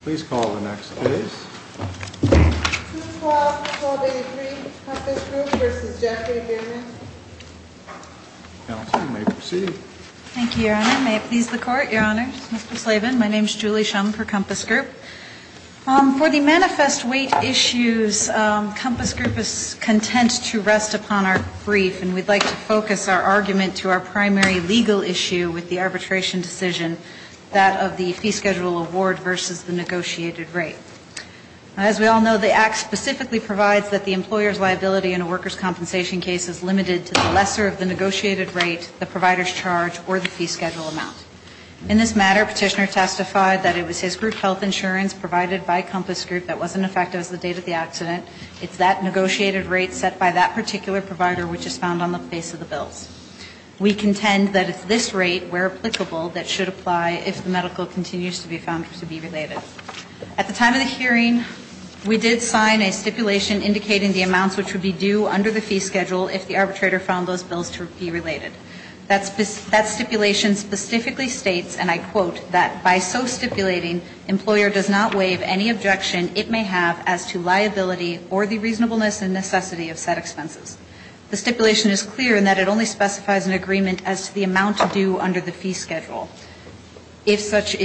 Please call the next case. This is Clause 12-83, Compass Group v. Jeffrey Biermann. Counsel, you may proceed. Thank you, Your Honor. May it please the Court, Your Honors? Mr. Slavin, my name is Julie Shum for Compass Group. For the manifest weight issues, Compass Group is content to rest upon our brief, and we'd like to focus our argument to our primary legal issue with the arbitration decision, that of the fee schedule award versus the negotiated rate. As we all know, the Act specifically provides that the employer's liability in a workers' compensation case is limited to the lesser of the negotiated rate, the provider's charge, or the fee schedule amount. In this matter, Petitioner testified that it was his group health insurance provided by Compass Group that wasn't effective as of the date of the accident. It's that negotiated rate set by that particular provider which is found on the face of the bills. We contend that it's this rate where applicable that should apply if the medical continues to be found to be related. At the time of the hearing, we did sign a stipulation indicating the amounts which would be due under the fee schedule if the arbitrator found those bills to be related. That stipulation specifically states, and I quote, that by so stipulating, employer does not waive any objection it may have as to liability or the reasonableness and necessity of said expenses. The stipulation is clear in that it only specifies an agreement as to the amount due under the fee schedule if such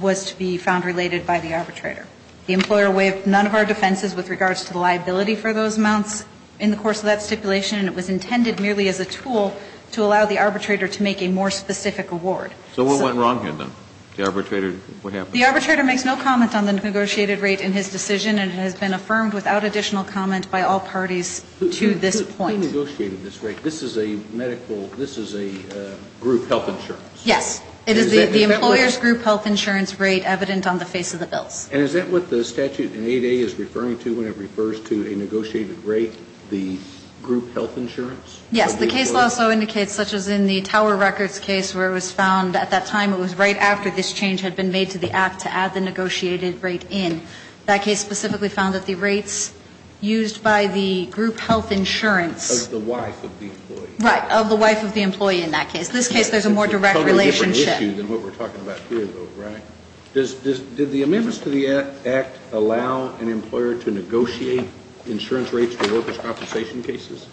was to be found related by the arbitrator. The employer waived none of our defenses with regards to the liability for those amounts in the course of that stipulation, and it was intended merely as a tool to allow the arbitrator to make a more specific award. So what went wrong here then? The arbitrator, what happened? The arbitrator makes no comment on the negotiated rate in his decision and has been affirmed without additional comment by all parties to this point. Who negotiated this rate? This is a medical, this is a group health insurance. Yes. It is the employer's group health insurance rate evident on the face of the bills. And is that what the statute in 8A is referring to when it refers to a negotiated rate, the group health insurance? Yes. The case law also indicates, such as in the Tower Records case where it was found at that time it was right after this change had been made to the act to add the negotiated rate in. That case specifically found that the rates used by the group health insurance. Of the wife of the employee. Right. Of the wife of the employee in that case. This case there's a more direct relationship. It's a totally different issue than what we're talking about here though, right? Did the amendments to the act allow an employer to negotiate insurance rates for workers' compensation cases?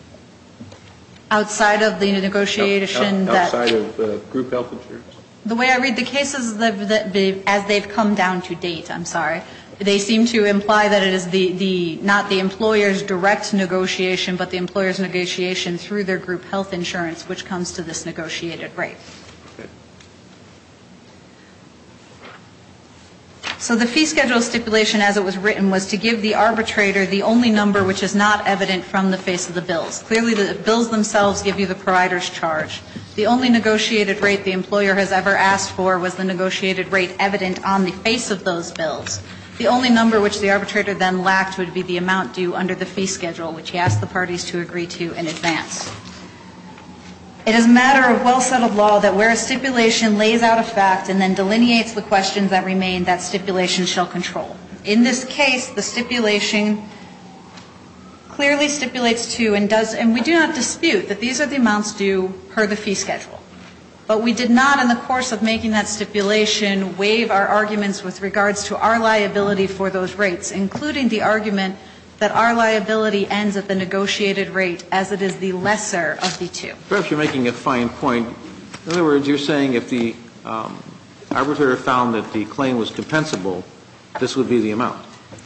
Outside of the negotiation that. Outside of group health insurance. The way I read the cases as they've come down to date, I'm sorry. They seem to imply that it is not the employer's direct negotiation, but the employer's negotiation through their group health insurance which comes to this negotiated rate. Okay. So the fee schedule stipulation as it was written was to give the arbitrator the only number which is not evident from the face of the bills. Clearly the bills themselves give you the provider's charge. The only negotiated rate the employer has ever asked for was the negotiated rate evident on the face of those bills. The only number which the arbitrator then lacked would be the amount due under the fee schedule which he asked the parties to agree to in advance. It is a matter of well-settled law that where a stipulation lays out a fact and then delineates the questions that remain, that stipulation shall control. In this case, the stipulation clearly stipulates to and does, and we do not dispute that these are the amounts due per the fee schedule. But we did not, in the course of making that stipulation, waive our arguments with regards to our liability for those rates, including the argument that our liability ends at the negotiated rate as it is the lesser of the two. Perhaps you're making a fine point. In other words, you're saying if the arbitrator found that the claim was compensable, this would be the amount.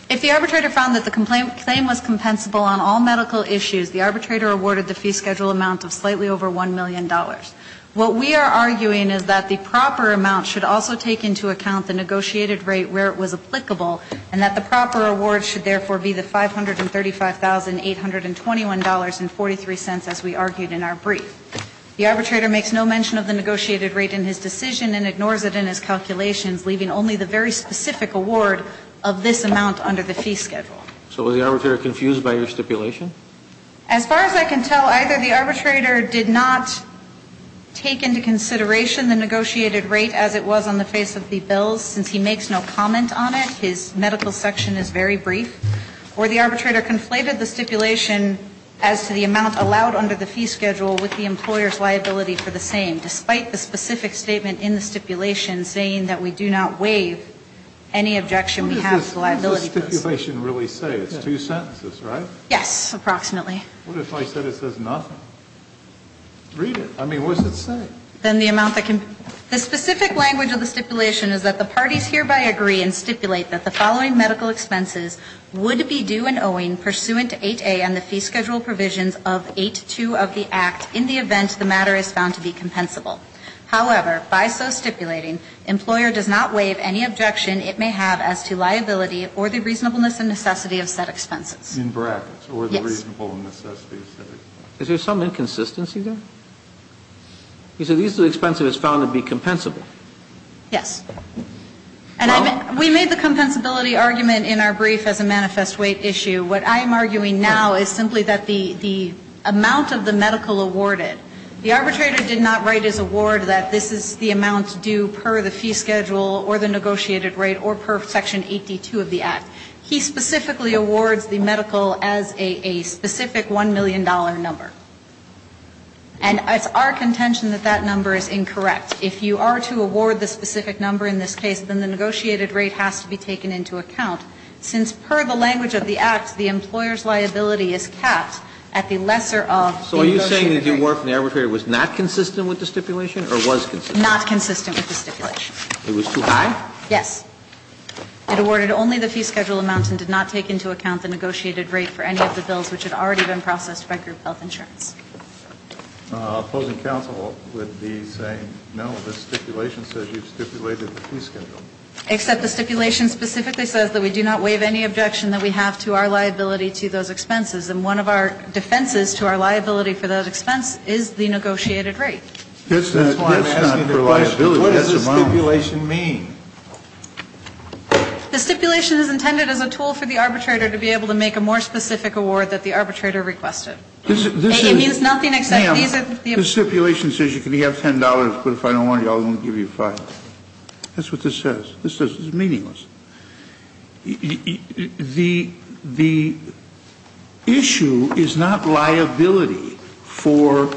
If the arbitrator found that the claim was compensable on all medical issues, the arbitrator awarded the fee schedule amount of slightly over $1 million. What we are arguing is that the proper amount should also take into account the negotiated rate where it was applicable, and that the proper award should therefore be the $535,821.43 as we argued in our brief. The arbitrator makes no mention of the negotiated rate in his decision and ignores it in his calculations, leaving only the very specific award of this amount under the fee schedule. So was the arbitrator confused by your stipulation? As far as I can tell, either the arbitrator did not take into consideration the negotiated rate as it was on the face of the bills, since he makes no comment on it. His medical section is very brief. Or the arbitrator conflated the stipulation as to the amount allowed under the fee schedule with the employer's liability for the same, despite the specific statement in the stipulation saying that we do not waive any objection we have to liability for this. What does this stipulation really say? It's two sentences, right? Yes, approximately. What if I said it says nothing? Read it. I mean, what does it say? The specific language of the stipulation is that the parties hereby agree and stipulate that the following medical expenses would be due and owing pursuant to 8A and the fee schedule provisions of 8.2 of the Act in the event the matter is found to be compensable. However, by so stipulating, employer does not waive any objection it may have as to liability or the reasonableness and necessity of said expenses. In brackets? Yes. Or the reasonableness and necessity of said expenses. Is there some inconsistency there? He said these are the expenses found to be compensable. Yes. And we made the compensability argument in our brief as a manifest weight issue. What I am arguing now is simply that the amount of the medical awarded, the arbitrator did not write his award that this is the amount due per the fee schedule or the negotiated rate or per section 8.2 of the Act. He specifically awards the medical as a specific $1 million number. And it's our contention that that number is incorrect. If you are to award the specific number in this case, then the negotiated rate has to be taken into account since per the language of the Act, the employer's liability is capped at the lesser of negotiated rate. So are you saying that the award from the arbitrator was not consistent with the stipulation or was consistent? Not consistent with the stipulation. It was too high? Yes. It awarded only the fee schedule amount and did not take into account the negotiated rate for any of the bills which had already been processed by group health insurance. Opposing counsel would be saying no, the stipulation says you've stipulated the fee schedule. Except the stipulation specifically says that we do not waive any objection that we have to our liability to those expenses. And one of our defenses to our liability for those expenses is the negotiated rate. That's why I'm asking the question, what does the stipulation mean? The stipulation is intended as a tool for the arbitrator to be able to make a more specific award that the arbitrator requested. It means nothing except these are the. Ma'am, the stipulation says you can have $10, but if I don't want it, I won't give you $5. That's what this says. This is meaningless. The issue is not liability for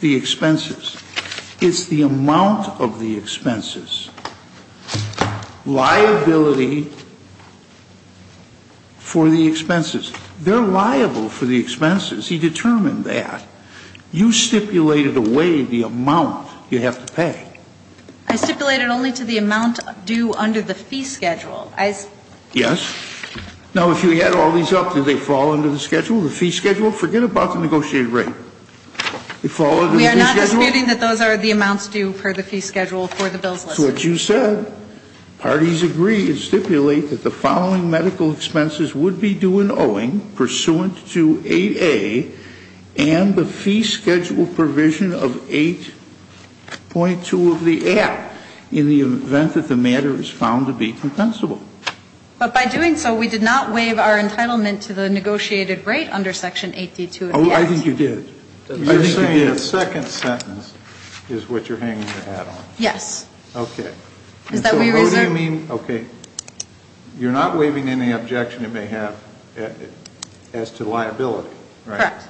the expenses. It's the amount of the expenses. Liability for the expenses. They're liable for the expenses. He determined that. You stipulated away the amount you have to pay. I stipulated only to the amount due under the fee schedule. Yes. Now, if you add all these up, do they fall under the schedule, the fee schedule? Forget about the negotiated rate. They fall under the fee schedule? We are not disputing that those are the amounts due per the fee schedule for the bills. So what you said, parties agree and stipulate that the following medical expenses would be due in owing pursuant to 8A and the fee schedule provision of 8.2 of the act in the event that the matter is found to be compensable. But by doing so, we did not waive our entitlement to the negotiated rate under Section 8D2. Oh, I think you did. You're saying the second sentence is what you're hanging your hat on. Yes. Okay. So what do you mean, okay, you're not waiving any objection it may have as to liability, right? Correct.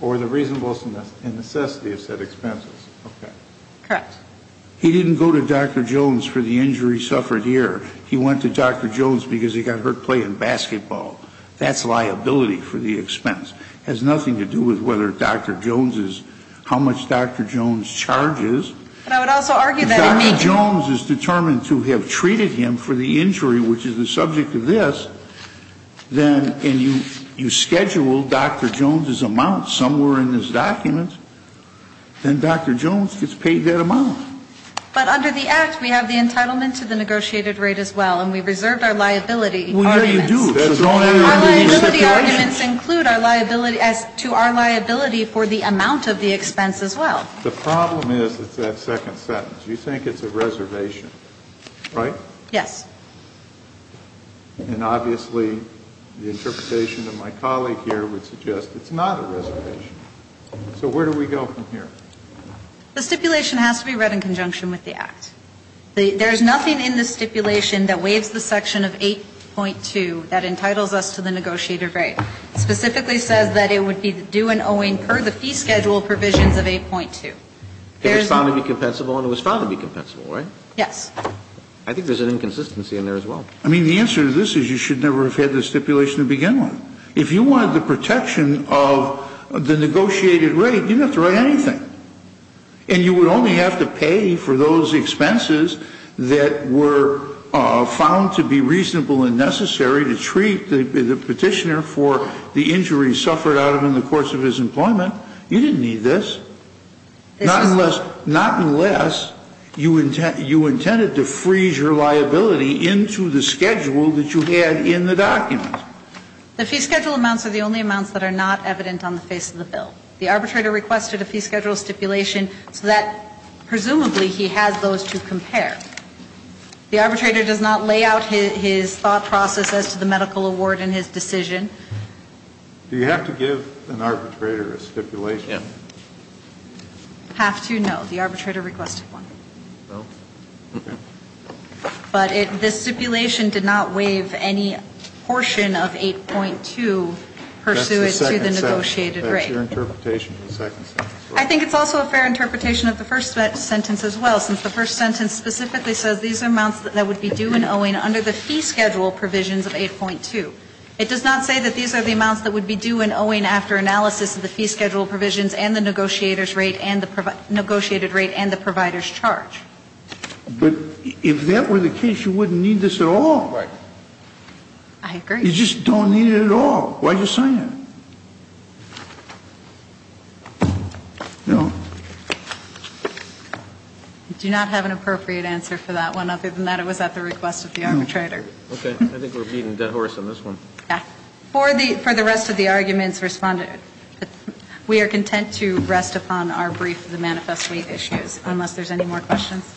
Or the reasonableness and necessity of said expenses. Okay. Correct. He didn't go to Dr. Jones for the injury he suffered here. He went to Dr. Jones because he got hurt playing basketball. That's liability for the expense. It has nothing to do with whether Dr. Jones is, how much Dr. Jones charges. But I would also argue that it may be. If Dr. Jones is determined to have treated him for the injury, which is the subject of this, and you schedule Dr. Jones' amount somewhere in this document, then Dr. Jones gets paid that amount. But under the act, we have the entitlement to the negotiated rate as well, and we reserved our liability arguments. Well, yeah, you do. Our liability arguments include our liability as to our liability for the amount of the expense as well. The problem is it's that second sentence. You think it's a reservation, right? Yes. And obviously the interpretation of my colleague here would suggest it's not a reservation. So where do we go from here? The stipulation has to be read in conjunction with the act. There's nothing in the stipulation that waives the section of 8.2 that entitles us to the negotiated rate. It specifically says that it would be due and owing per the fee schedule provisions of 8.2. It was found to be compensable, and it was found to be compensable, right? Yes. I think there's an inconsistency in there as well. I mean, the answer to this is you should never have had the stipulation to begin with. If you wanted the protection of the negotiated rate, you didn't have to write anything. And you would only have to pay for those expenses that were found to be reasonable and necessary to treat the petitioner for the injury suffered out of him in the course of his employment. You didn't need this. Not unless you intended to freeze your liability into the schedule that you had in the document. The fee schedule amounts are the only amounts that are not evident on the face of the bill. The arbitrator requested a fee schedule stipulation so that presumably he has those to compare. The arbitrator does not lay out his thought process as to the medical award and his decision. Do you have to give an arbitrator a stipulation? You have to? No. The arbitrator requested one. No? Okay. But this stipulation did not waive any portion of 8.2 pursuant to the negotiated rate. I think it's also a fair interpretation of the first sentence as well, since the first sentence specifically says these are amounts that would be due and owing under the fee schedule provisions of 8.2. It does not say that these are the amounts that would be due and owing after analysis of the fee schedule provisions and the negotiated rate and the provider's charge. But if that were the case, you wouldn't need this at all. Right. I agree. You just don't need it at all. Why did you sign it? No. I do not have an appropriate answer for that one. Other than that, it was at the request of the arbitrator. Okay. I think we're beating a dead horse on this one. Yeah. For the rest of the arguments responded, we are content to rest upon our brief of the manifesto issues, unless there's any more questions.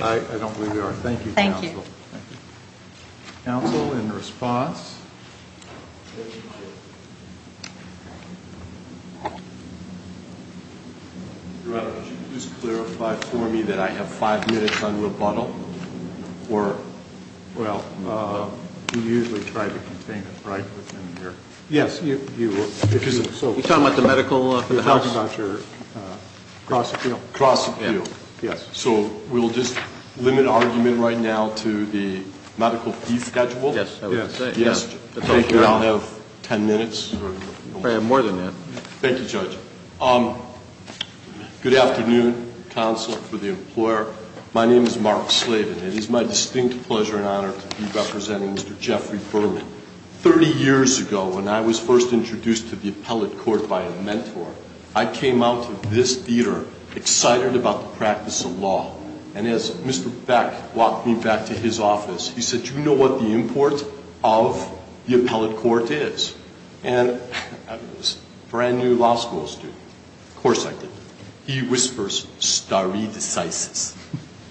I don't believe there are. Thank you, counsel. Thank you. Counsel, in response? Your Honor, could you please clarify for me that I have five minutes on rebuttal? Or, well, you usually try to contain it, right? Yes. You're talking about the medical for the house? You're talking about your cross appeal. Cross appeal. Yes. Okay. So we'll just limit argument right now to the medical fee schedule? Yes. I was going to say. Yes. Thank you. I'll have ten minutes. I have more than that. Thank you, Judge. Good afternoon, counsel for the employer. My name is Mark Slavin, and it is my distinct pleasure and honor to be representing Mr. Jeffrey Berman. Thirty years ago, when I was first introduced to the appellate court by a Mr. Beck walked me back to his office. He said, you know what the import of the appellate court is? And I was a brand new law school student. Of course I did. He whispers, stare decisis.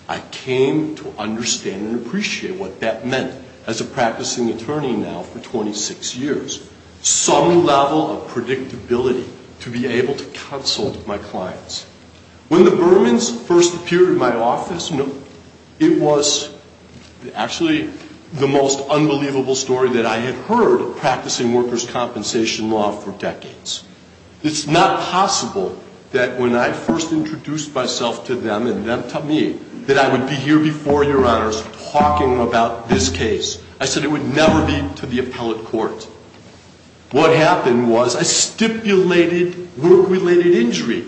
I came to understand and appreciate what that meant as a practicing attorney now for 26 years. Some level of predictability to be able to consult my clients. When the Bermans first appeared in my office, you know, it was actually the most unbelievable story that I had heard of practicing workers' compensation law for decades. It's not possible that when I first introduced myself to them and them to me that I would be here before your honors talking about this case. I said it would never be to the appellate court. What happened was I stipulated work-related injury.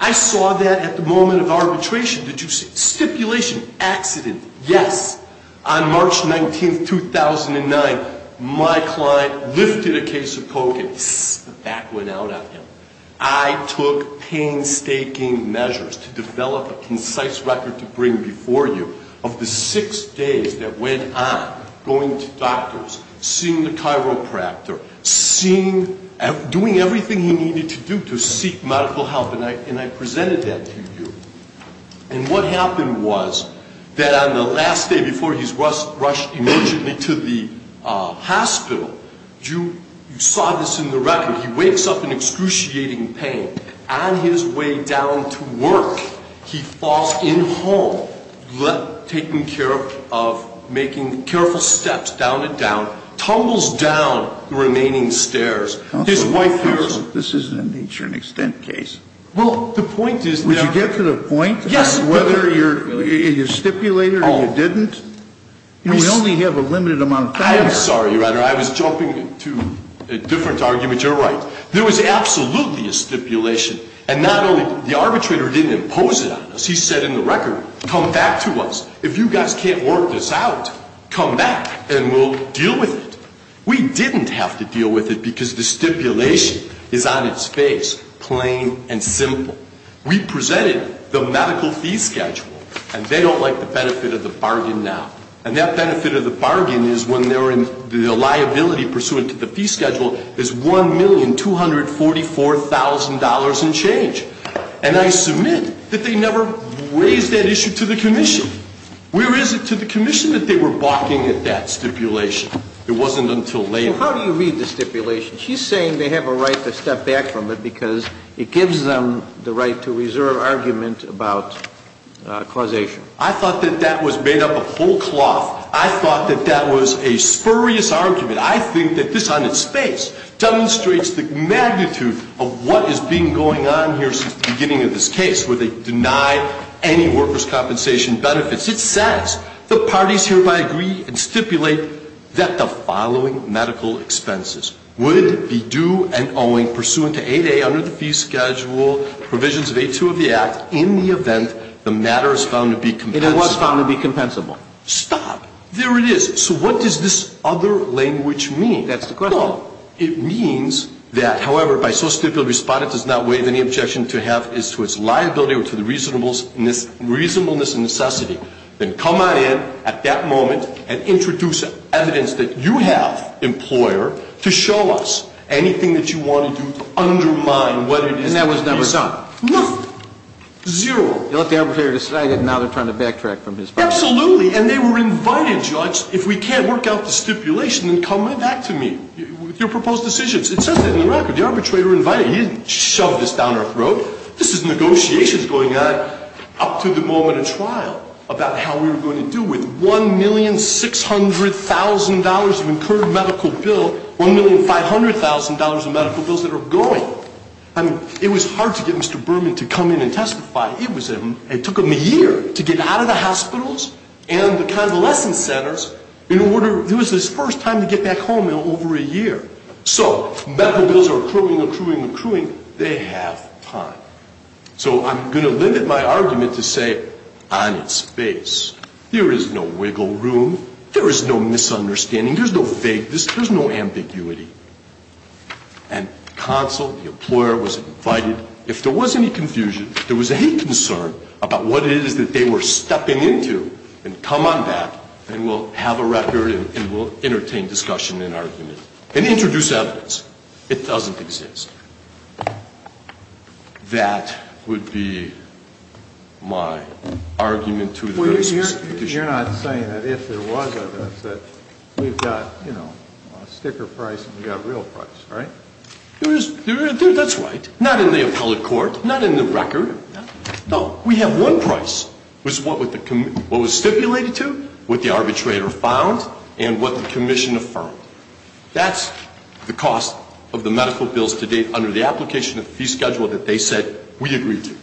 I saw that at the moment of arbitration. Did you see? Stipulation. Accident. Yes. On March 19, 2009, my client lifted a case of coke and the back went out at him. I took painstaking measures to develop a concise record to bring before you of the six days that went on going to doctors, seeing the chiropractor, doing everything he needed to do to seek medical help. And I presented that to you. And what happened was that on the last day before he's rushed emergently to the hospital, you saw this in the record. He wakes up in excruciating pain. On his way down to work, he falls in home, taking care of making careful steps down and down, tumbles down the remaining stairs. This is a nature and extent case. Would you get to the point of whether you stipulated or you didn't? We only have a limited amount of time. I am sorry, your honor. I was jumping to a different argument. You're right. There was absolutely a stipulation. And not only the arbitrator didn't impose it on us. He said in the record, come back to us. If you guys can't work this out, come back and we'll deal with it. We didn't have to deal with it because the stipulation is on its face, plain and simple. We presented the medical fee schedule. And they don't like the benefit of the bargain now. And that benefit of the bargain is when the liability pursuant to the fee schedule is $1,244,000 and change. And I submit that they never raised that issue to the commission. Where is it to the commission that they were balking at that stipulation? It wasn't until later. So how do you read the stipulation? She's saying they have a right to step back from it because it gives them the right to reserve argument about causation. I thought that that was made up of whole cloth. I thought that that was a spurious argument. I think that this on its face demonstrates the magnitude of what is being going on here since the beginning of this case where they denied any workers' compensation benefits. It says the parties hereby agree and stipulate that the following medical expenses would be due and owing pursuant to 8A under the fee schedule, provisions of 8-2 of the Act, in the event the matter is found to be compensable. It was found to be compensable. Stop. There it is. So what does this other language mean? That's the question. No. It means that, however, by so stipulated, respondent does not waive any objection to have as to its liability or to the reasonableness and necessity. Then come on in at that moment and introduce evidence that you have, employer, to show us anything that you want to do to undermine what it is being said. And that was never done. Nothing. Zero. You let the arbitrator decide it and now they're trying to backtrack from his part. Absolutely. And they were invited, judge, if we can't work out the stipulation, then come back to me with your proposed decisions. It says that in the record. The arbitrator invited. He didn't shove this down our throat. This is negotiations going on up to the moment of trial about how we were going to deal with $1,600,000 of incurred medical bill, $1,500,000 of medical bills that are going. I mean, it was hard to get Mr. Berman to come in and testify. It was him. It took him a year to get out of the hospitals and the convalescent centers. It was his first time to get back home in over a year. So medical bills are accruing, accruing, accruing. They have time. So I'm going to limit my argument to say on its face. There is no wiggle room. There is no misunderstanding. There's no vagueness. There's no ambiguity. And the consul, the employer, was invited. If there was any confusion, there was any concern about what it is that they were stepping into and come on back and we'll have a record and we'll entertain discussion and argument and introduce evidence. It doesn't exist. That would be my argument to the very specific issue. You're not saying that if there was evidence that we've got, you know, sticker price and we've got real price, right? That's right. Not in the appellate court. Not in the record. No, we have one price, which is what was stipulated to, what the arbitrator found, and what the commission affirmed. That's the cost of the medical bills to date under the application of the fee schedule that they said we agreed to.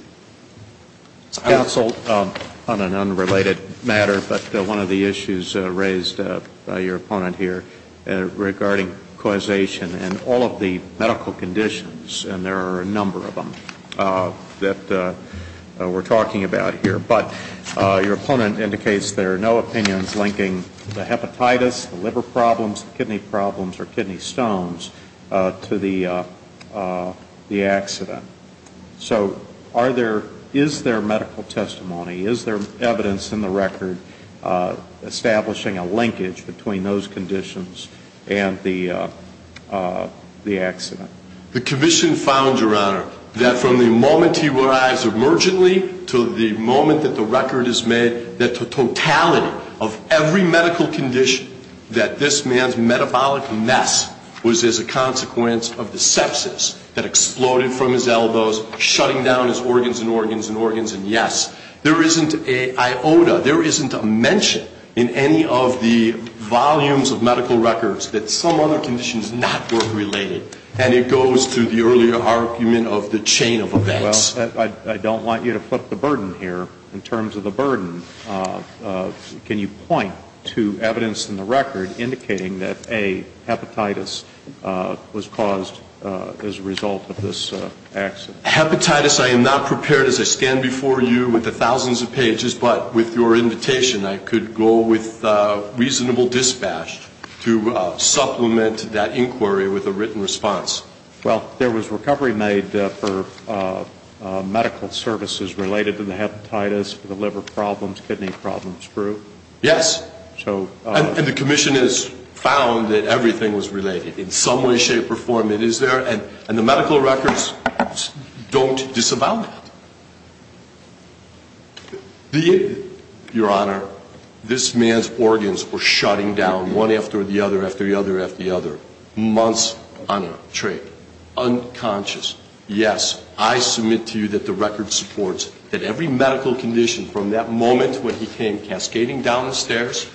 Counsel, on an unrelated matter, but one of the issues raised by your opponent here regarding causation and all of the medical conditions, and there are a number of them that we're talking about here, but your opponent indicates there are no opinions linking the hepatitis, the liver problems, the kidney problems, or kidney stones to the accident. So are there, is there medical testimony, is there evidence in the record establishing a linkage between those conditions and the accident? The commission found, Your Honor, that from the moment he arrives emergently to the moment that the record is made, that the totality of every medical condition that this man's metabolic mess was as a consequence of the sepsis that exploded from his elbows, shutting down his organs and organs and organs, and yes, there isn't an iota, there isn't a mention in any of the volumes of medical that he had a link to the sepsis, and that's why he's unrelated. And it goes to the earlier argument of the chain of events. Well, I don't want you to flip the burden here. In terms of the burden, can you point to evidence in the record indicating that, A, hepatitis was caused as a result of this accident? Hepatitis, I am not prepared as I stand before you with the thousands of pages, but with your invitation, I could go with reasonable dispatch to supplement that inquiry with a written response. Well, there was recovery made for medical services related to the hepatitis, the liver problems, kidney problems. Yes. And the commission has found that everything was related. In some way, shape, or form, it is there, and the medical records don't disavow that. Your Honor, this man's organs were shutting down one after the other, after the other, after the other, months on a trip, unconscious. Yes, I submit to you that the record supports that every medical condition from that moment when he came cascading down the stairs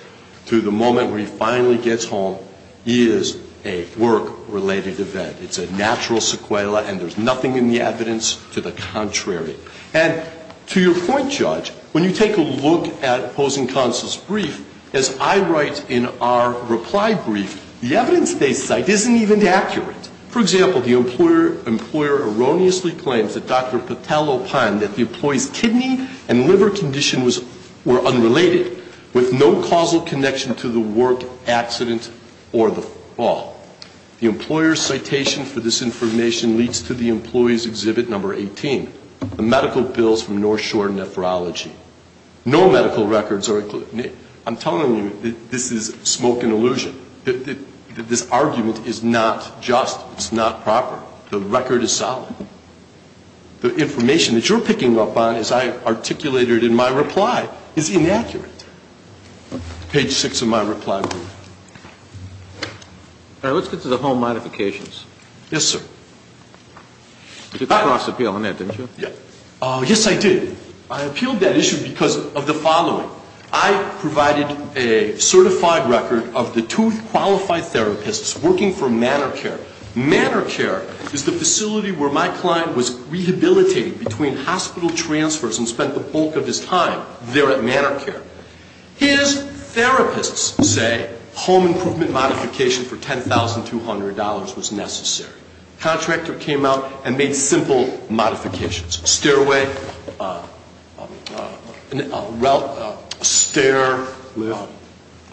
to the moment where he finally gets home is a work-related event. It's a natural sequela, and there's nothing in the evidence to the contrary. And to your point, Judge, when you take a look at opposing counsel's brief, as I write in our reply brief, the evidence they cite isn't even accurate. For example, the employer erroneously claims that Dr. Patel opined that the conditions were unrelated with no causal connection to the work accident or the fall. The employer's citation for this information leads to the employee's exhibit number 18, the medical bills from North Shore Nephrology. No medical records are included. I'm telling you that this is smoke and illusion, that this argument is not just. It's not proper. The record is solid. The information that you're picking up on, as I articulated in my reply, is inaccurate. Page 6 of my reply brief. All right, let's get to the home modifications. Yes, sir. You got Ross' appeal on that, didn't you? Yes, I did. I appealed that issue because of the following. I provided a certified record of the two qualified therapists working for Manor Care. Manor Care is the facility where my client was rehabilitated between hospital transfers and spent the bulk of his time there at Manor Care. His therapists say home improvement modification for $10,200 was necessary. Contractor came out and made simple modifications. Stairway,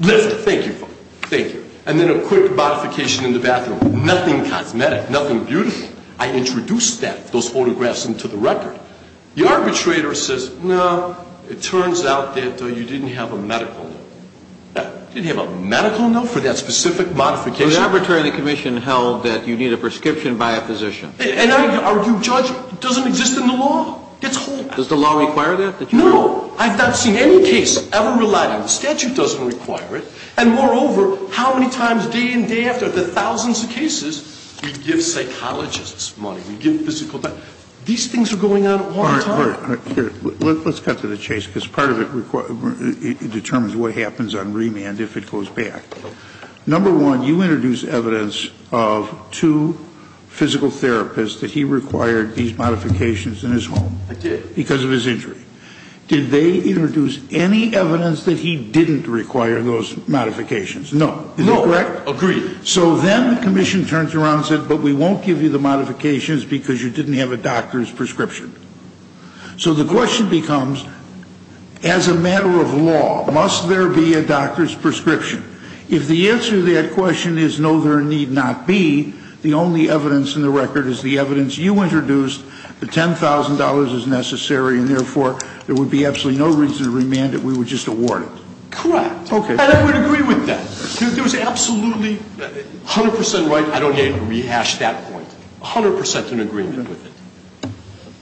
lift, thank you. And then a quick modification in the bathroom. Nothing cosmetic, nothing beautiful. I introduced that, those photographs, into the record. The arbitrator says, no, it turns out that you didn't have a medical note. You didn't have a medical note for that specific modification? The arbitrator and the commission held that you need a prescription by a physician. And are you judging? It doesn't exist in the law. Does the law require that? No. I've not seen any case ever relied on. The statute doesn't require it. And, moreover, how many times day in, day out of the thousands of cases we give psychologists money, we give physical therapy. These things are going on all the time. Let's cut to the chase because part of it determines what happens on remand if it goes back. Number one, you introduced evidence of two physical therapists that he required these modifications in his home. I did. Because of his injury. Did they introduce any evidence that he didn't require those modifications? No. Is that correct? No. Agreed. So then the commission turns around and said, but we won't give you the modifications because you didn't have a doctor's prescription. So the question becomes, as a matter of law, must there be a doctor's prescription? If the answer to that question is, no, there need not be, the only evidence in the record is the evidence you introduced. The $10,000 is necessary and, therefore, there would be absolutely no reason to remand it. We would just award it. Correct. Okay. And I would agree with that. It was absolutely 100% right. I don't need to rehash that point. 100% in agreement with it.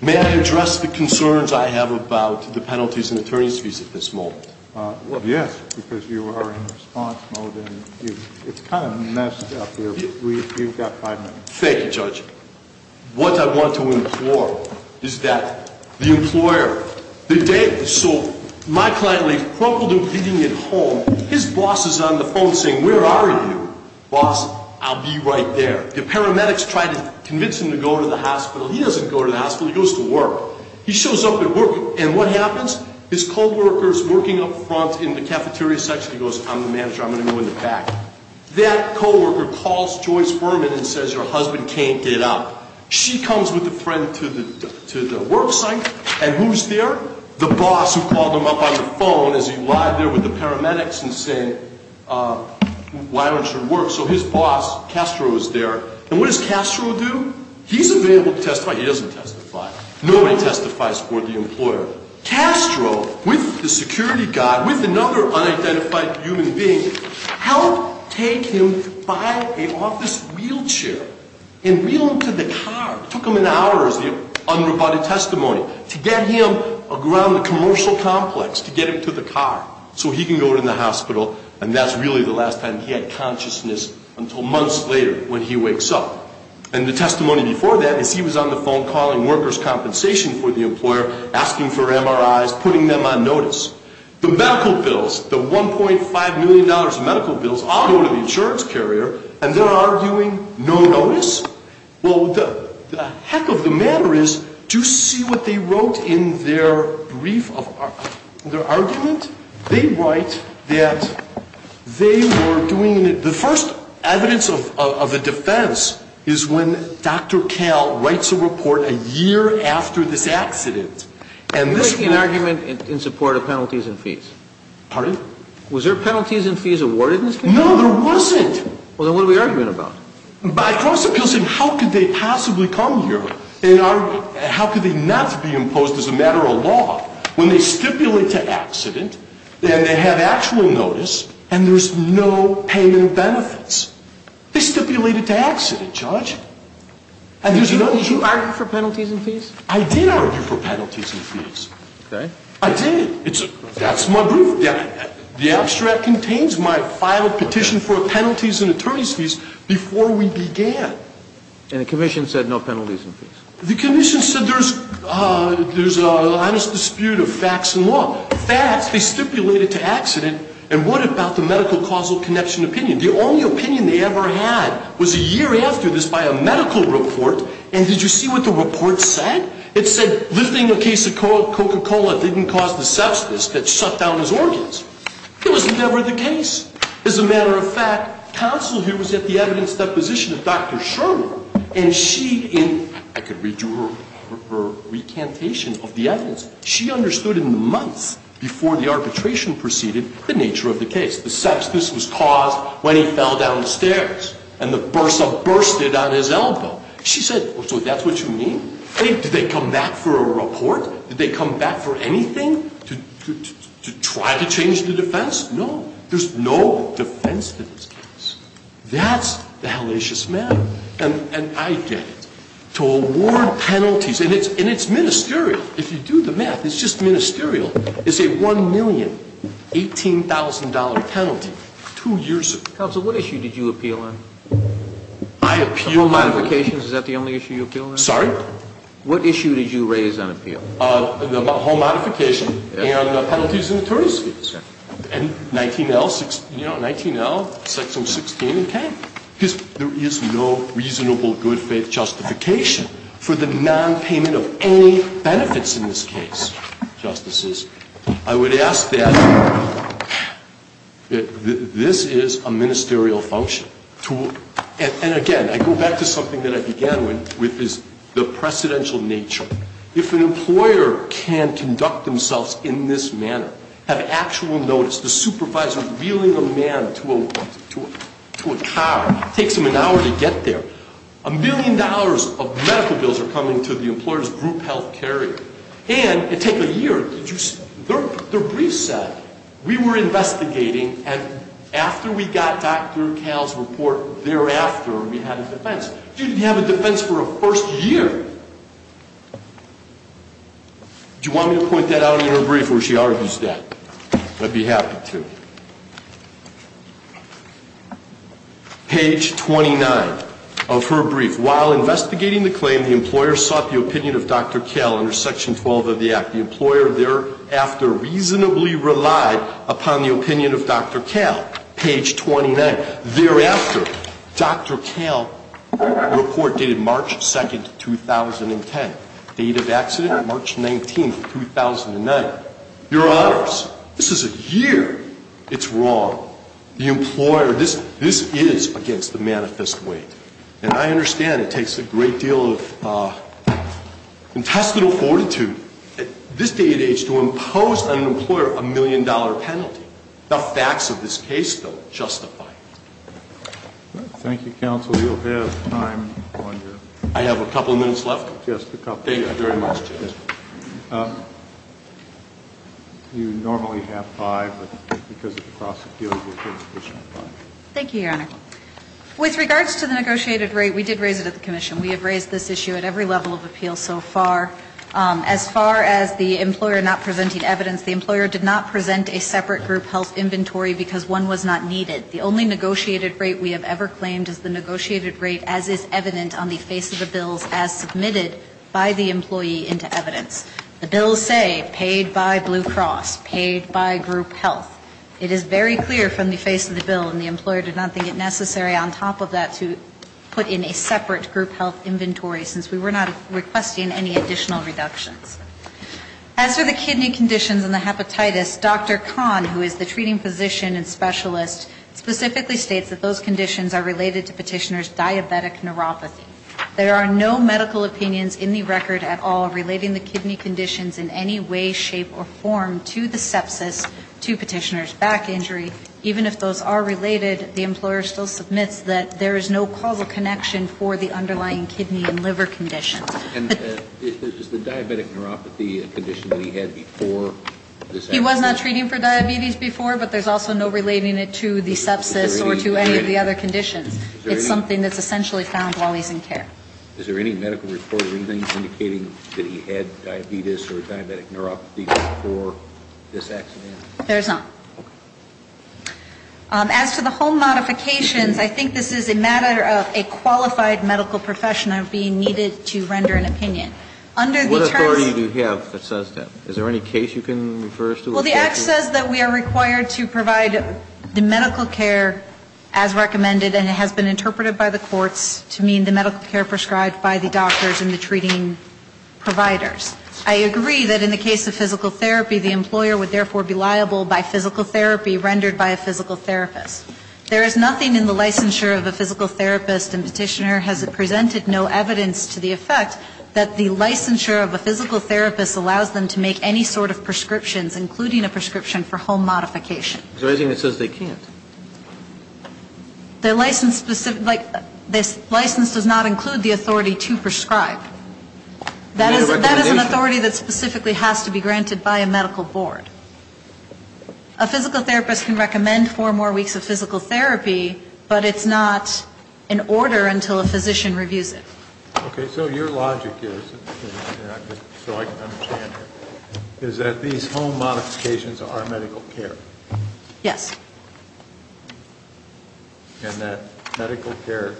May I address the concerns I have about the penalties and attorney's fees at this moment? Yes, because you are in response mode and it's kind of messed up here. You've got five minutes. Thank you, Judge. What I want to implore is that the employer, the day, so my client leaves, crumpled and bleeding at home, his boss is on the phone saying, where are you? Boss, I'll be right there. The paramedics try to convince him to go to the hospital. He doesn't go to the hospital. He goes to work. He shows up at work, and what happens? His co-worker is working up front in the cafeteria section. He goes, I'm the manager. I'm going to go in the back. That co-worker calls Joyce Berman and says, your husband can't get up. She comes with a friend to the work site, and who's there? The boss who called him up on the phone as he lied there with the paramedics and said, why aren't you at work? So his boss, Castro, is there, and what does Castro do? He's available to testify. Nobody testifies for the employer. Castro, with the security guard, with another unidentified human being, helped take him by an office wheelchair and wheel him to the car. It took him hours, the unroboted testimony, to get him around the commercial complex, to get him to the car so he can go to the hospital, and that's really the last time he had consciousness until months later when he wakes up. And the testimony before that is he was on the phone calling workers' compensation for the employer, asking for MRIs, putting them on notice. The medical bills, the $1.5 million medical bills, all go to the insurance carrier, and they're arguing no notice? Well, the heck of the matter is, do you see what they wrote in their brief, in their argument? They write that they were doing, the first evidence of a defense is when Dr. Kael writes a report a year after this accident. They're making an argument in support of penalties and fees. Pardon? Was there penalties and fees awarded in this case? No, there wasn't. Well, then what are we arguing about? By cross-appeals, how could they possibly come here? How could they not be imposed as a matter of law when they stipulate to accident, and they have actual notice, and there's no payment of benefits? They stipulated to accident, Judge. Did you argue for penalties and fees? I did argue for penalties and fees. Okay. I did. That's my brief. The abstract contains my final petition for penalties and attorney's fees before we began. And the commission said no penalties and fees. The commission said there's an honest dispute of facts and law. Facts, they stipulated to accident, and what about the medical causal connection opinion? The only opinion they ever had was a year after this by a medical report, and did you see what the report said? It said lifting a case of Coca-Cola didn't cause the sepsis that shut down his organs. It wasn't ever the case. As a matter of fact, counsel here was at the evidence deposition of Dr. Sherwood, and she, in her recantation of the evidence, she understood in the months before the arbitration proceeded the nature of the case. The sepsis was caused when he fell down the stairs, and the bursa bursted on his elbow. She said, so that's what you mean? Did they come back for a report? Did they come back for anything to try to change the defense? No. There's no defense to this case. That's the hellacious matter, and I get it. To award penalties, and it's ministerial. If you do the math, it's just ministerial. It's a $1,018,000 penalty. Two years ago. Counsel, what issue did you appeal on? I appealed. Home modifications. Is that the only issue you appealed on? Sorry? What issue did you raise on appeal? The home modification and the penalties and attorneys' fees. And 19L, you know, 19L section 16 and 10. Because there is no reasonable good faith justification for the nonpayment of any benefits in this case, Justices, I would ask that this is a ministerial function. And, again, I go back to something that I began with is the precedential nature. If an employer can conduct themselves in this manner, have actual notice, the supervisor reeling a man to a car, it takes him an hour to get there. A million dollars of medical bills are coming to the employer's group health carrier. And it takes a year. Their brief said, we were investigating, and after we got Dr. Kahl's report, thereafter, we had a defense. You didn't have a defense for a first year. Do you want me to point that out in her brief where she argues that? I'd be happy to. Page 29 of her brief. While investigating the claim, the employer sought the opinion of Dr. Kahl under Section 12 of the Act. The employer thereafter reasonably relied upon the opinion of Dr. Kahl. Page 29. Thereafter, Dr. Kahl's report dated March 2, 2010. Date of accident, March 19, 2009. Your Honors, this is a year. It's wrong. The employer, this is against the manifest weight. And I understand it takes a great deal of intestinal fortitude at this day and age to impose on an employer a million-dollar penalty. The facts of this case don't justify it. Thank you, Counsel. You'll have time on your end. I have a couple of minutes left? Yes, a couple. Thank you very much, Judge. You normally have five, but because of the prosecutable conviction, five. Thank you, Your Honor. With regards to the negotiated rate, we did raise it at the commission. We have raised this issue at every level of appeal so far. As far as the employer not presenting evidence, the employer did not present a separate group health inventory because one was not needed. The only negotiated rate we have ever claimed is the negotiated rate as is evident on the face of the bills as submitted by the employee into evidence. The bills say paid by Blue Cross, paid by group health. It is very clear from the face of the bill, and the employer did not think it necessary on top of that to put in a separate group health inventory since we were not requesting any additional reductions. As for the kidney conditions and the hepatitis, Dr. Kahn, who is the treating physician and specialist, specifically states that those conditions are related to Petitioner's diabetic neuropathy. There are no medical opinions in the record at all relating the kidney conditions in any way, shape, or form to the sepsis, to Petitioner's back injury. Even if those are related, the employer still submits that there is no causal connection for the underlying kidney and liver conditions. And is the diabetic neuropathy a condition that he had before this accident? He was not treating for diabetes before, but there's also no relating it to the sepsis or to any of the other conditions. It's something that's essentially found while he's in care. Is there any medical report or anything indicating that he had diabetes or diabetic neuropathy before this accident? There's not. As for the home modifications, I think this is a matter of a qualified medical professional being needed to render an opinion. Under the terms of the… What authority do you have that says that? Is there any case you can refer us to? Well, the Act says that we are required to provide the medical care as recommended, and it has been interpreted by the courts to mean the medical care prescribed by the doctors and the treating providers. I agree that in the case of physical therapy, the employer would therefore be liable by physical therapy rendered by a physical therapist. There is nothing in the licensure of a physical therapist and Petitioner has presented no evidence to the effect that the licensure of a physical therapist allows them to make any sort of prescriptions, including a prescription for home modification. So I think it says they can't. The license does not include the authority to prescribe. That is an authority that specifically has to be granted by a medical board. A physical therapist can recommend four more weeks of physical therapy, but it's not in order until a physician reviews it. Okay. So your logic is, so I can understand, is that these home modifications are medical care? Yes. And that medical care,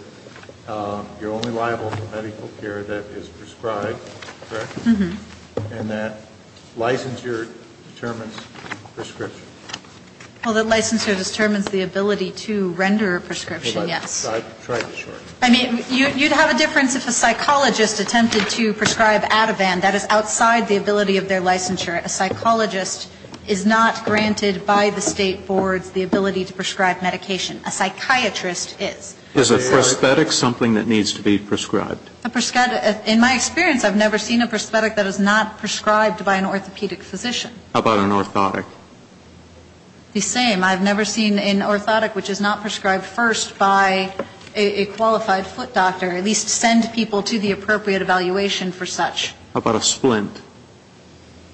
you're only liable for medical care that is prescribed, correct? Mm-hmm. And that licensure determines prescription? Well, that licensure determines the ability to render a prescription, yes. Well, I tried to shorten it. I mean, you'd have a difference if a psychologist attempted to prescribe Ativan. That is outside the ability of their licensure. A psychologist is not granted by the state boards the ability to prescribe medication. A psychiatrist is. Is a prosthetic something that needs to be prescribed? In my experience, I've never seen a prosthetic that is not prescribed by an orthopedic physician. How about an orthotic? The same. I've never seen an orthotic which is not prescribed first by a qualified foot doctor, How about a splint?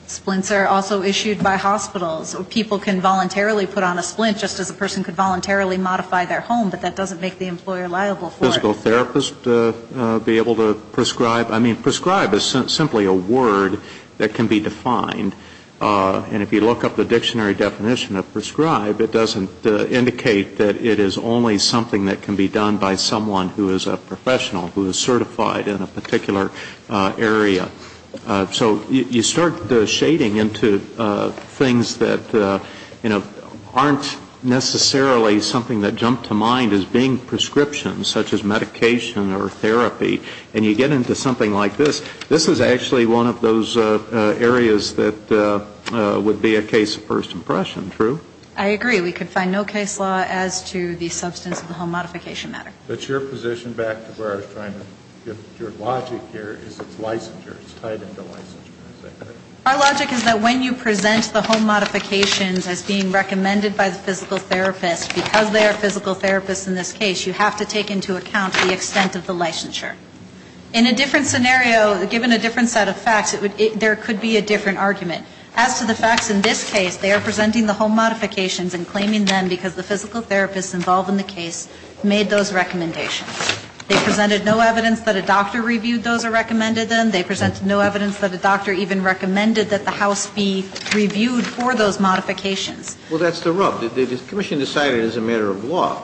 Splints are also issued by hospitals. People can voluntarily put on a splint just as a person could voluntarily modify their home, but that doesn't make the employer liable for it. A physical therapist be able to prescribe? I mean, prescribed is simply a word that can be defined. And if you look up the dictionary definition of prescribed, it doesn't indicate that it is only something that can be done by someone who is a professional, who is certified in a particular area. So you start the shading into things that, you know, aren't necessarily something that jump to mind as being prescriptions such as medication or therapy, and you get into something like this. This is actually one of those areas that would be a case of first impression, true? I agree. We could find no case law as to the substance of the home modification matter. But your position back to where I was trying to get your logic here is it's licensure. It's tied into licensure. Our logic is that when you present the home modifications as being recommended by the physical therapist, because they are physical therapists in this case, you have to take into account the extent of the licensure. In a different scenario, given a different set of facts, there could be a different argument. As to the facts in this case, they are presenting the home modifications and claiming them because the physical therapist involved in the case made those recommendations. They presented no evidence that a doctor reviewed those or recommended them. They presented no evidence that a doctor even recommended that the house be reviewed for those modifications. Well, that's the rub. The commission decided as a matter of law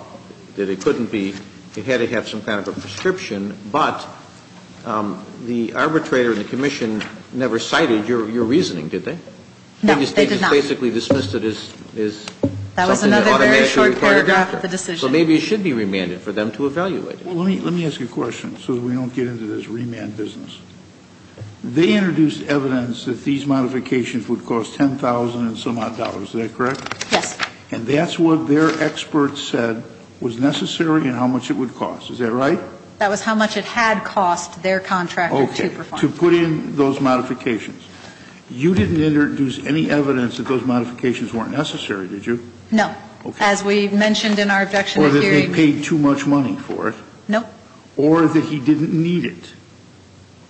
that it couldn't be, it had to have some kind of a prescription. But the arbitrator and the commission never cited your reasoning, did they? No, they did not. Well, they basically dismissed it as something that automatically occurred after the decision. So maybe it should be remanded for them to evaluate it. Let me ask you a question so that we don't get into this remand business. They introduced evidence that these modifications would cost $10,000 and some odd. Is that correct? Yes. And that's what their experts said was necessary and how much it would cost. Is that right? That was how much it had cost their contractor to perform. Okay. To put in those modifications. You didn't introduce any evidence that those modifications weren't necessary, did you? No. As we mentioned in our objection to the hearing. Or that they paid too much money for it. No. Or that he didn't need it.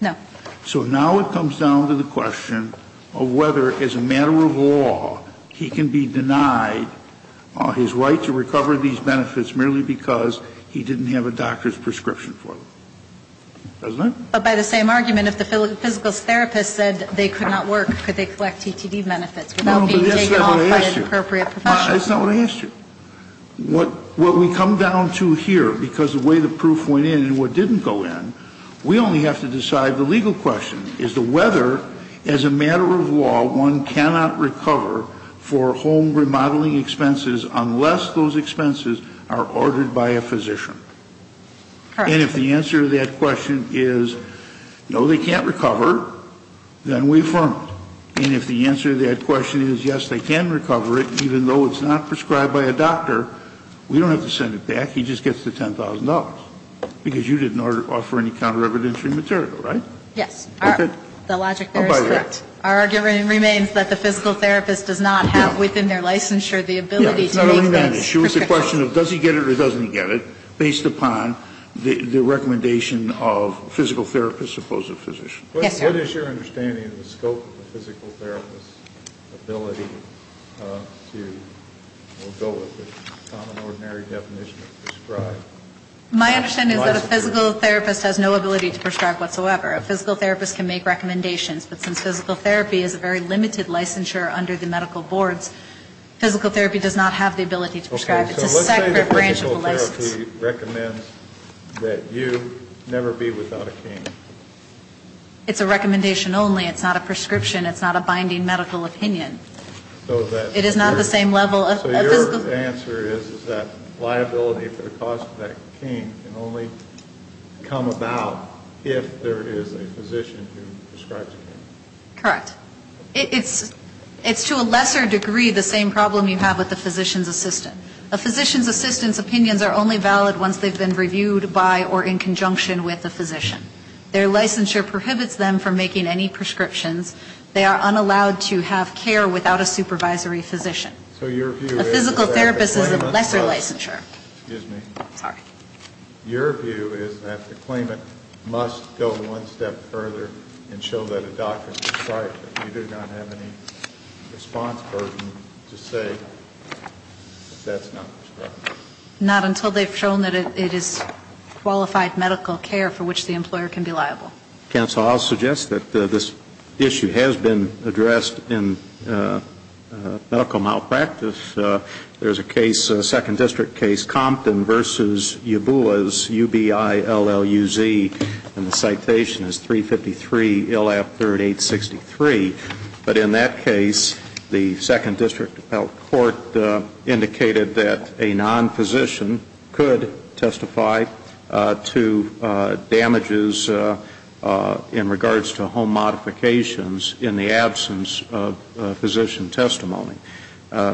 No. So now it comes down to the question of whether, as a matter of law, he can be denied his right to recover these benefits merely because he didn't have a doctor's prescription for them. Doesn't it? But by the same argument, if the physical therapist said they could not work, could they collect TTD benefits without being taken off by the appropriate professional? That's not what I asked you. That's not what I asked you. What we come down to here, because of the way the proof went in and what didn't go in, we only have to decide the legal question is whether, as a matter of law, one cannot recover for home remodeling expenses unless those expenses are ordered by a physician. Correct. And if the answer to that question is no, they can't recover, then we affirm it. And if the answer to that question is yes, they can recover it, even though it's not prescribed by a doctor, we don't have to send it back. He just gets the $10,000, because you didn't offer any counter-evidentiary material, right? Yes. The logic there is correct. Our argument remains that the physical therapist does not have within their licensure the ability to make these prescriptions. The issue is the question of does he get it or doesn't he get it, based upon the recommendation of physical therapist opposed to physician. Yes, sir. What is your understanding of the scope of the physical therapist's ability to, we'll go with the common ordinary definition of prescribed? My understanding is that a physical therapist has no ability to prescribe whatsoever. A physical therapist can make recommendations, but since physical therapy is a very limited licensure under the medical boards, physical therapy does not have the ability to prescribe. It's a separate branch of a license. Okay, so let's say that physical therapy recommends that you never be without a cane. It's a recommendation only. It's not a prescription. It's not a binding medical opinion. It is not the same level of physical therapy. So your answer is that liability for the cost of that cane can only come about if there is a physician who prescribes a cane. Correct. It's to a lesser degree the same problem you have with the physician's assistant. A physician's assistant's opinions are only valid once they've been reviewed by or in conjunction with a physician. Their licensure prohibits them from making any prescriptions. They are unallowed to have care without a supervisory physician. So your view is that the claimant must go one step further and show that a doctor has prescribed. You do not have any response burden to say that that's not prescribed. Not until they've shown that it is qualified medical care for which the employer can be liable. Counsel, I'll suggest that this issue has been addressed in medical malpractice. There's a case, a second district case, Compton v. Yabulas, UBI, LLUZ, and the citation is 353, ILF 3863. But in that case, the second district court indicated that a non-physician could testify to damages in regards to home modifications in the absence of physician testimony.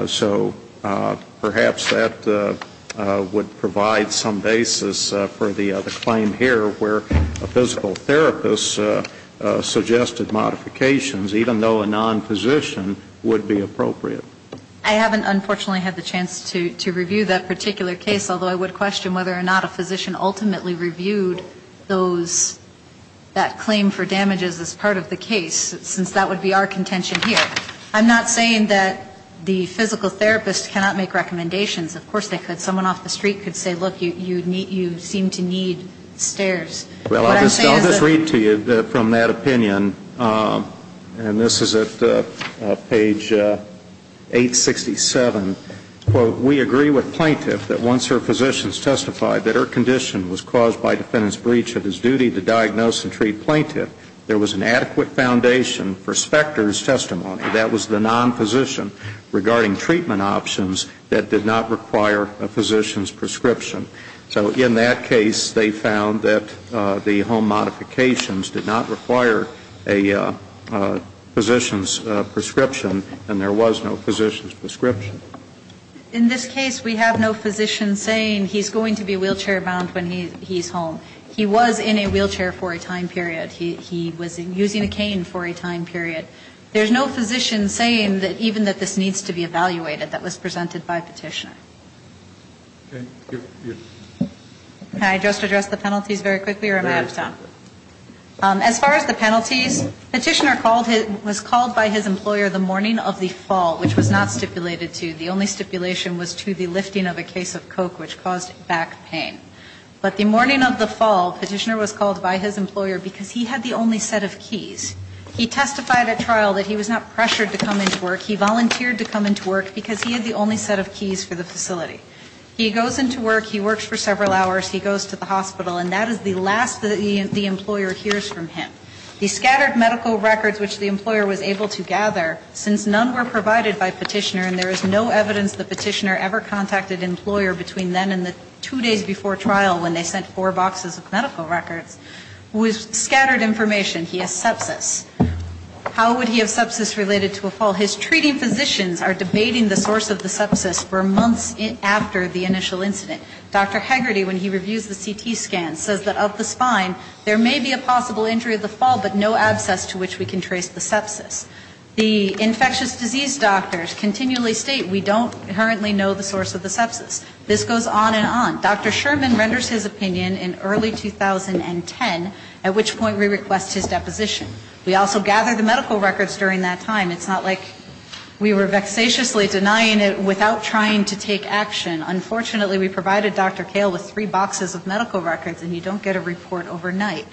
So perhaps that would provide some basis for the claim here where a physical therapist suggested modifications, even though a non-physician would be appropriate. I haven't, unfortunately, had the chance to review that particular case, although I would question whether or not a physician ultimately reviewed those, that claim for damages as part of the case, since that would be our contention here. I'm not saying that the physical therapist cannot make recommendations. Of course they could. Someone off the street could say, look, you seem to need stairs. Well, I'll just read to you from that opinion, and this is at page 867. Quote, we agree with plaintiff that once her physicians testified that her condition was caused by defendant's breach of his duty to diagnose and treat plaintiff, there was an non-physician regarding treatment options that did not require a physician's prescription. So in that case, they found that the home modifications did not require a physician's prescription, and there was no physician's prescription. In this case, we have no physician saying he's going to be wheelchair-bound when he's home. He was in a wheelchair for a time period. He was using a cane for a time period. There's no physician saying that even that this needs to be evaluated that was presented by Petitioner. Can I just address the penalties very quickly, or am I out of time? As far as the penalties, Petitioner was called by his employer the morning of the fall, which was not stipulated to. The only stipulation was to the lifting of a case of coke, which caused back pain. But the morning of the fall, Petitioner was called by his employer because he had the only set of keys. He testified at trial that he was not pressured to come into work. He volunteered to come into work because he had the only set of keys for the facility. He goes into work. He works for several hours. He goes to the hospital. And that is the last that the employer hears from him. The scattered medical records which the employer was able to gather, since none were provided by Petitioner and there is no evidence that Petitioner ever contacted an employer between then and the two days before trial when they sent four boxes of medical records, was scattered information. He has sepsis. How would he have sepsis related to a fall? His treating physicians are debating the source of the sepsis for months after the initial incident. Dr. Hegarty, when he reviews the CT scan, says that of the spine, there may be a possible injury of the fall, but no abscess to which we can trace the sepsis. The infectious disease doctors continually state we don't currently know the source of the sepsis. This goes on and on. Dr. Sherman renders his opinion in early 2010, at which point we request his deposition. We also gather the medical records during that time. It's not like we were vexatiously denying it without trying to take action. Unfortunately, we provided Dr. Kale with three boxes of medical records and you don't get a report overnight.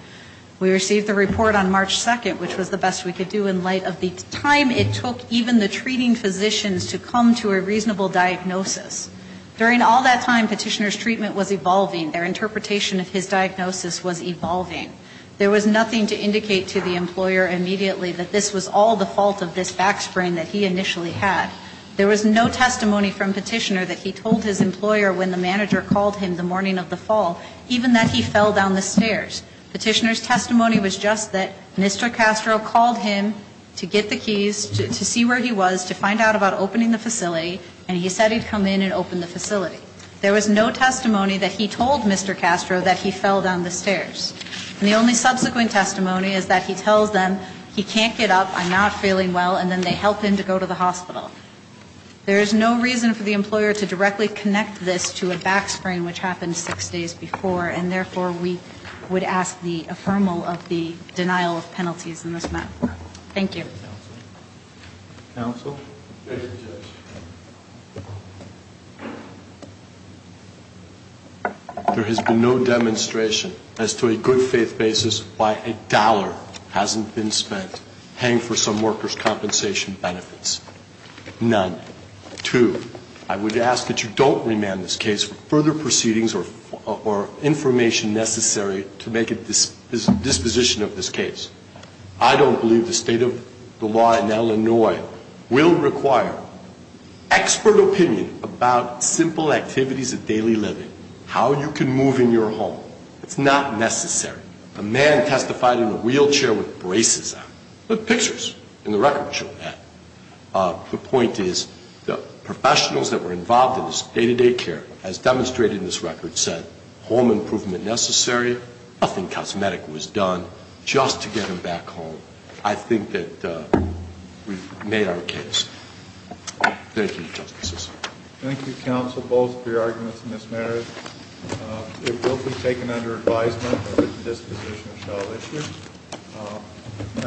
We received the report on March 2nd, which was the best we could do in light of the time it took even the treating physicians to come to a reasonable diagnosis. During all that time, Petitioner's treatment was evolving. Their interpretation of his diagnosis was evolving. There was nothing to indicate to the employer immediately that this was all the fault of this back sprain that he initially had. There was no testimony from Petitioner that he told his employer when the manager called him the morning of the fall, even that he fell down the stairs. Petitioner's testimony was just that Mr. Castro called him to get the keys, to see where he was, to find out about opening the facility, and he said he'd come in and open the facility. There was no testimony that he told Mr. Castro that he fell down the stairs. And the only subsequent testimony is that he tells them he can't get up, I'm not feeling well, and then they help him to go to the hospital. There is no reason for the employer to directly connect this to a back sprain, which happened six days before, and therefore we would ask the affermal of the denial of penalties in this matter. Thank you. Counsel? There has been no demonstration as to a good faith basis why a dollar hasn't been spent paying for some workers' compensation benefits. None. Two, I would ask that you don't remand this case for further proceedings or information necessary to make a disposition of this case. I don't believe the state of the law in Illinois will require expert opinion about simple activities of daily living, how you can move in your home. It's not necessary. A man testified in a wheelchair with braces on. The pictures in the record show that. The point is the professionals that were involved in this day-to-day care has demonstrated in this record said home improvement necessary, nothing cosmetic was done just to get him back home. I think that we've made our case. Thank you, Justices. Thank you, Counsel, both for your arguments in this matter. It will be taken under advisement that a disposition shall issue.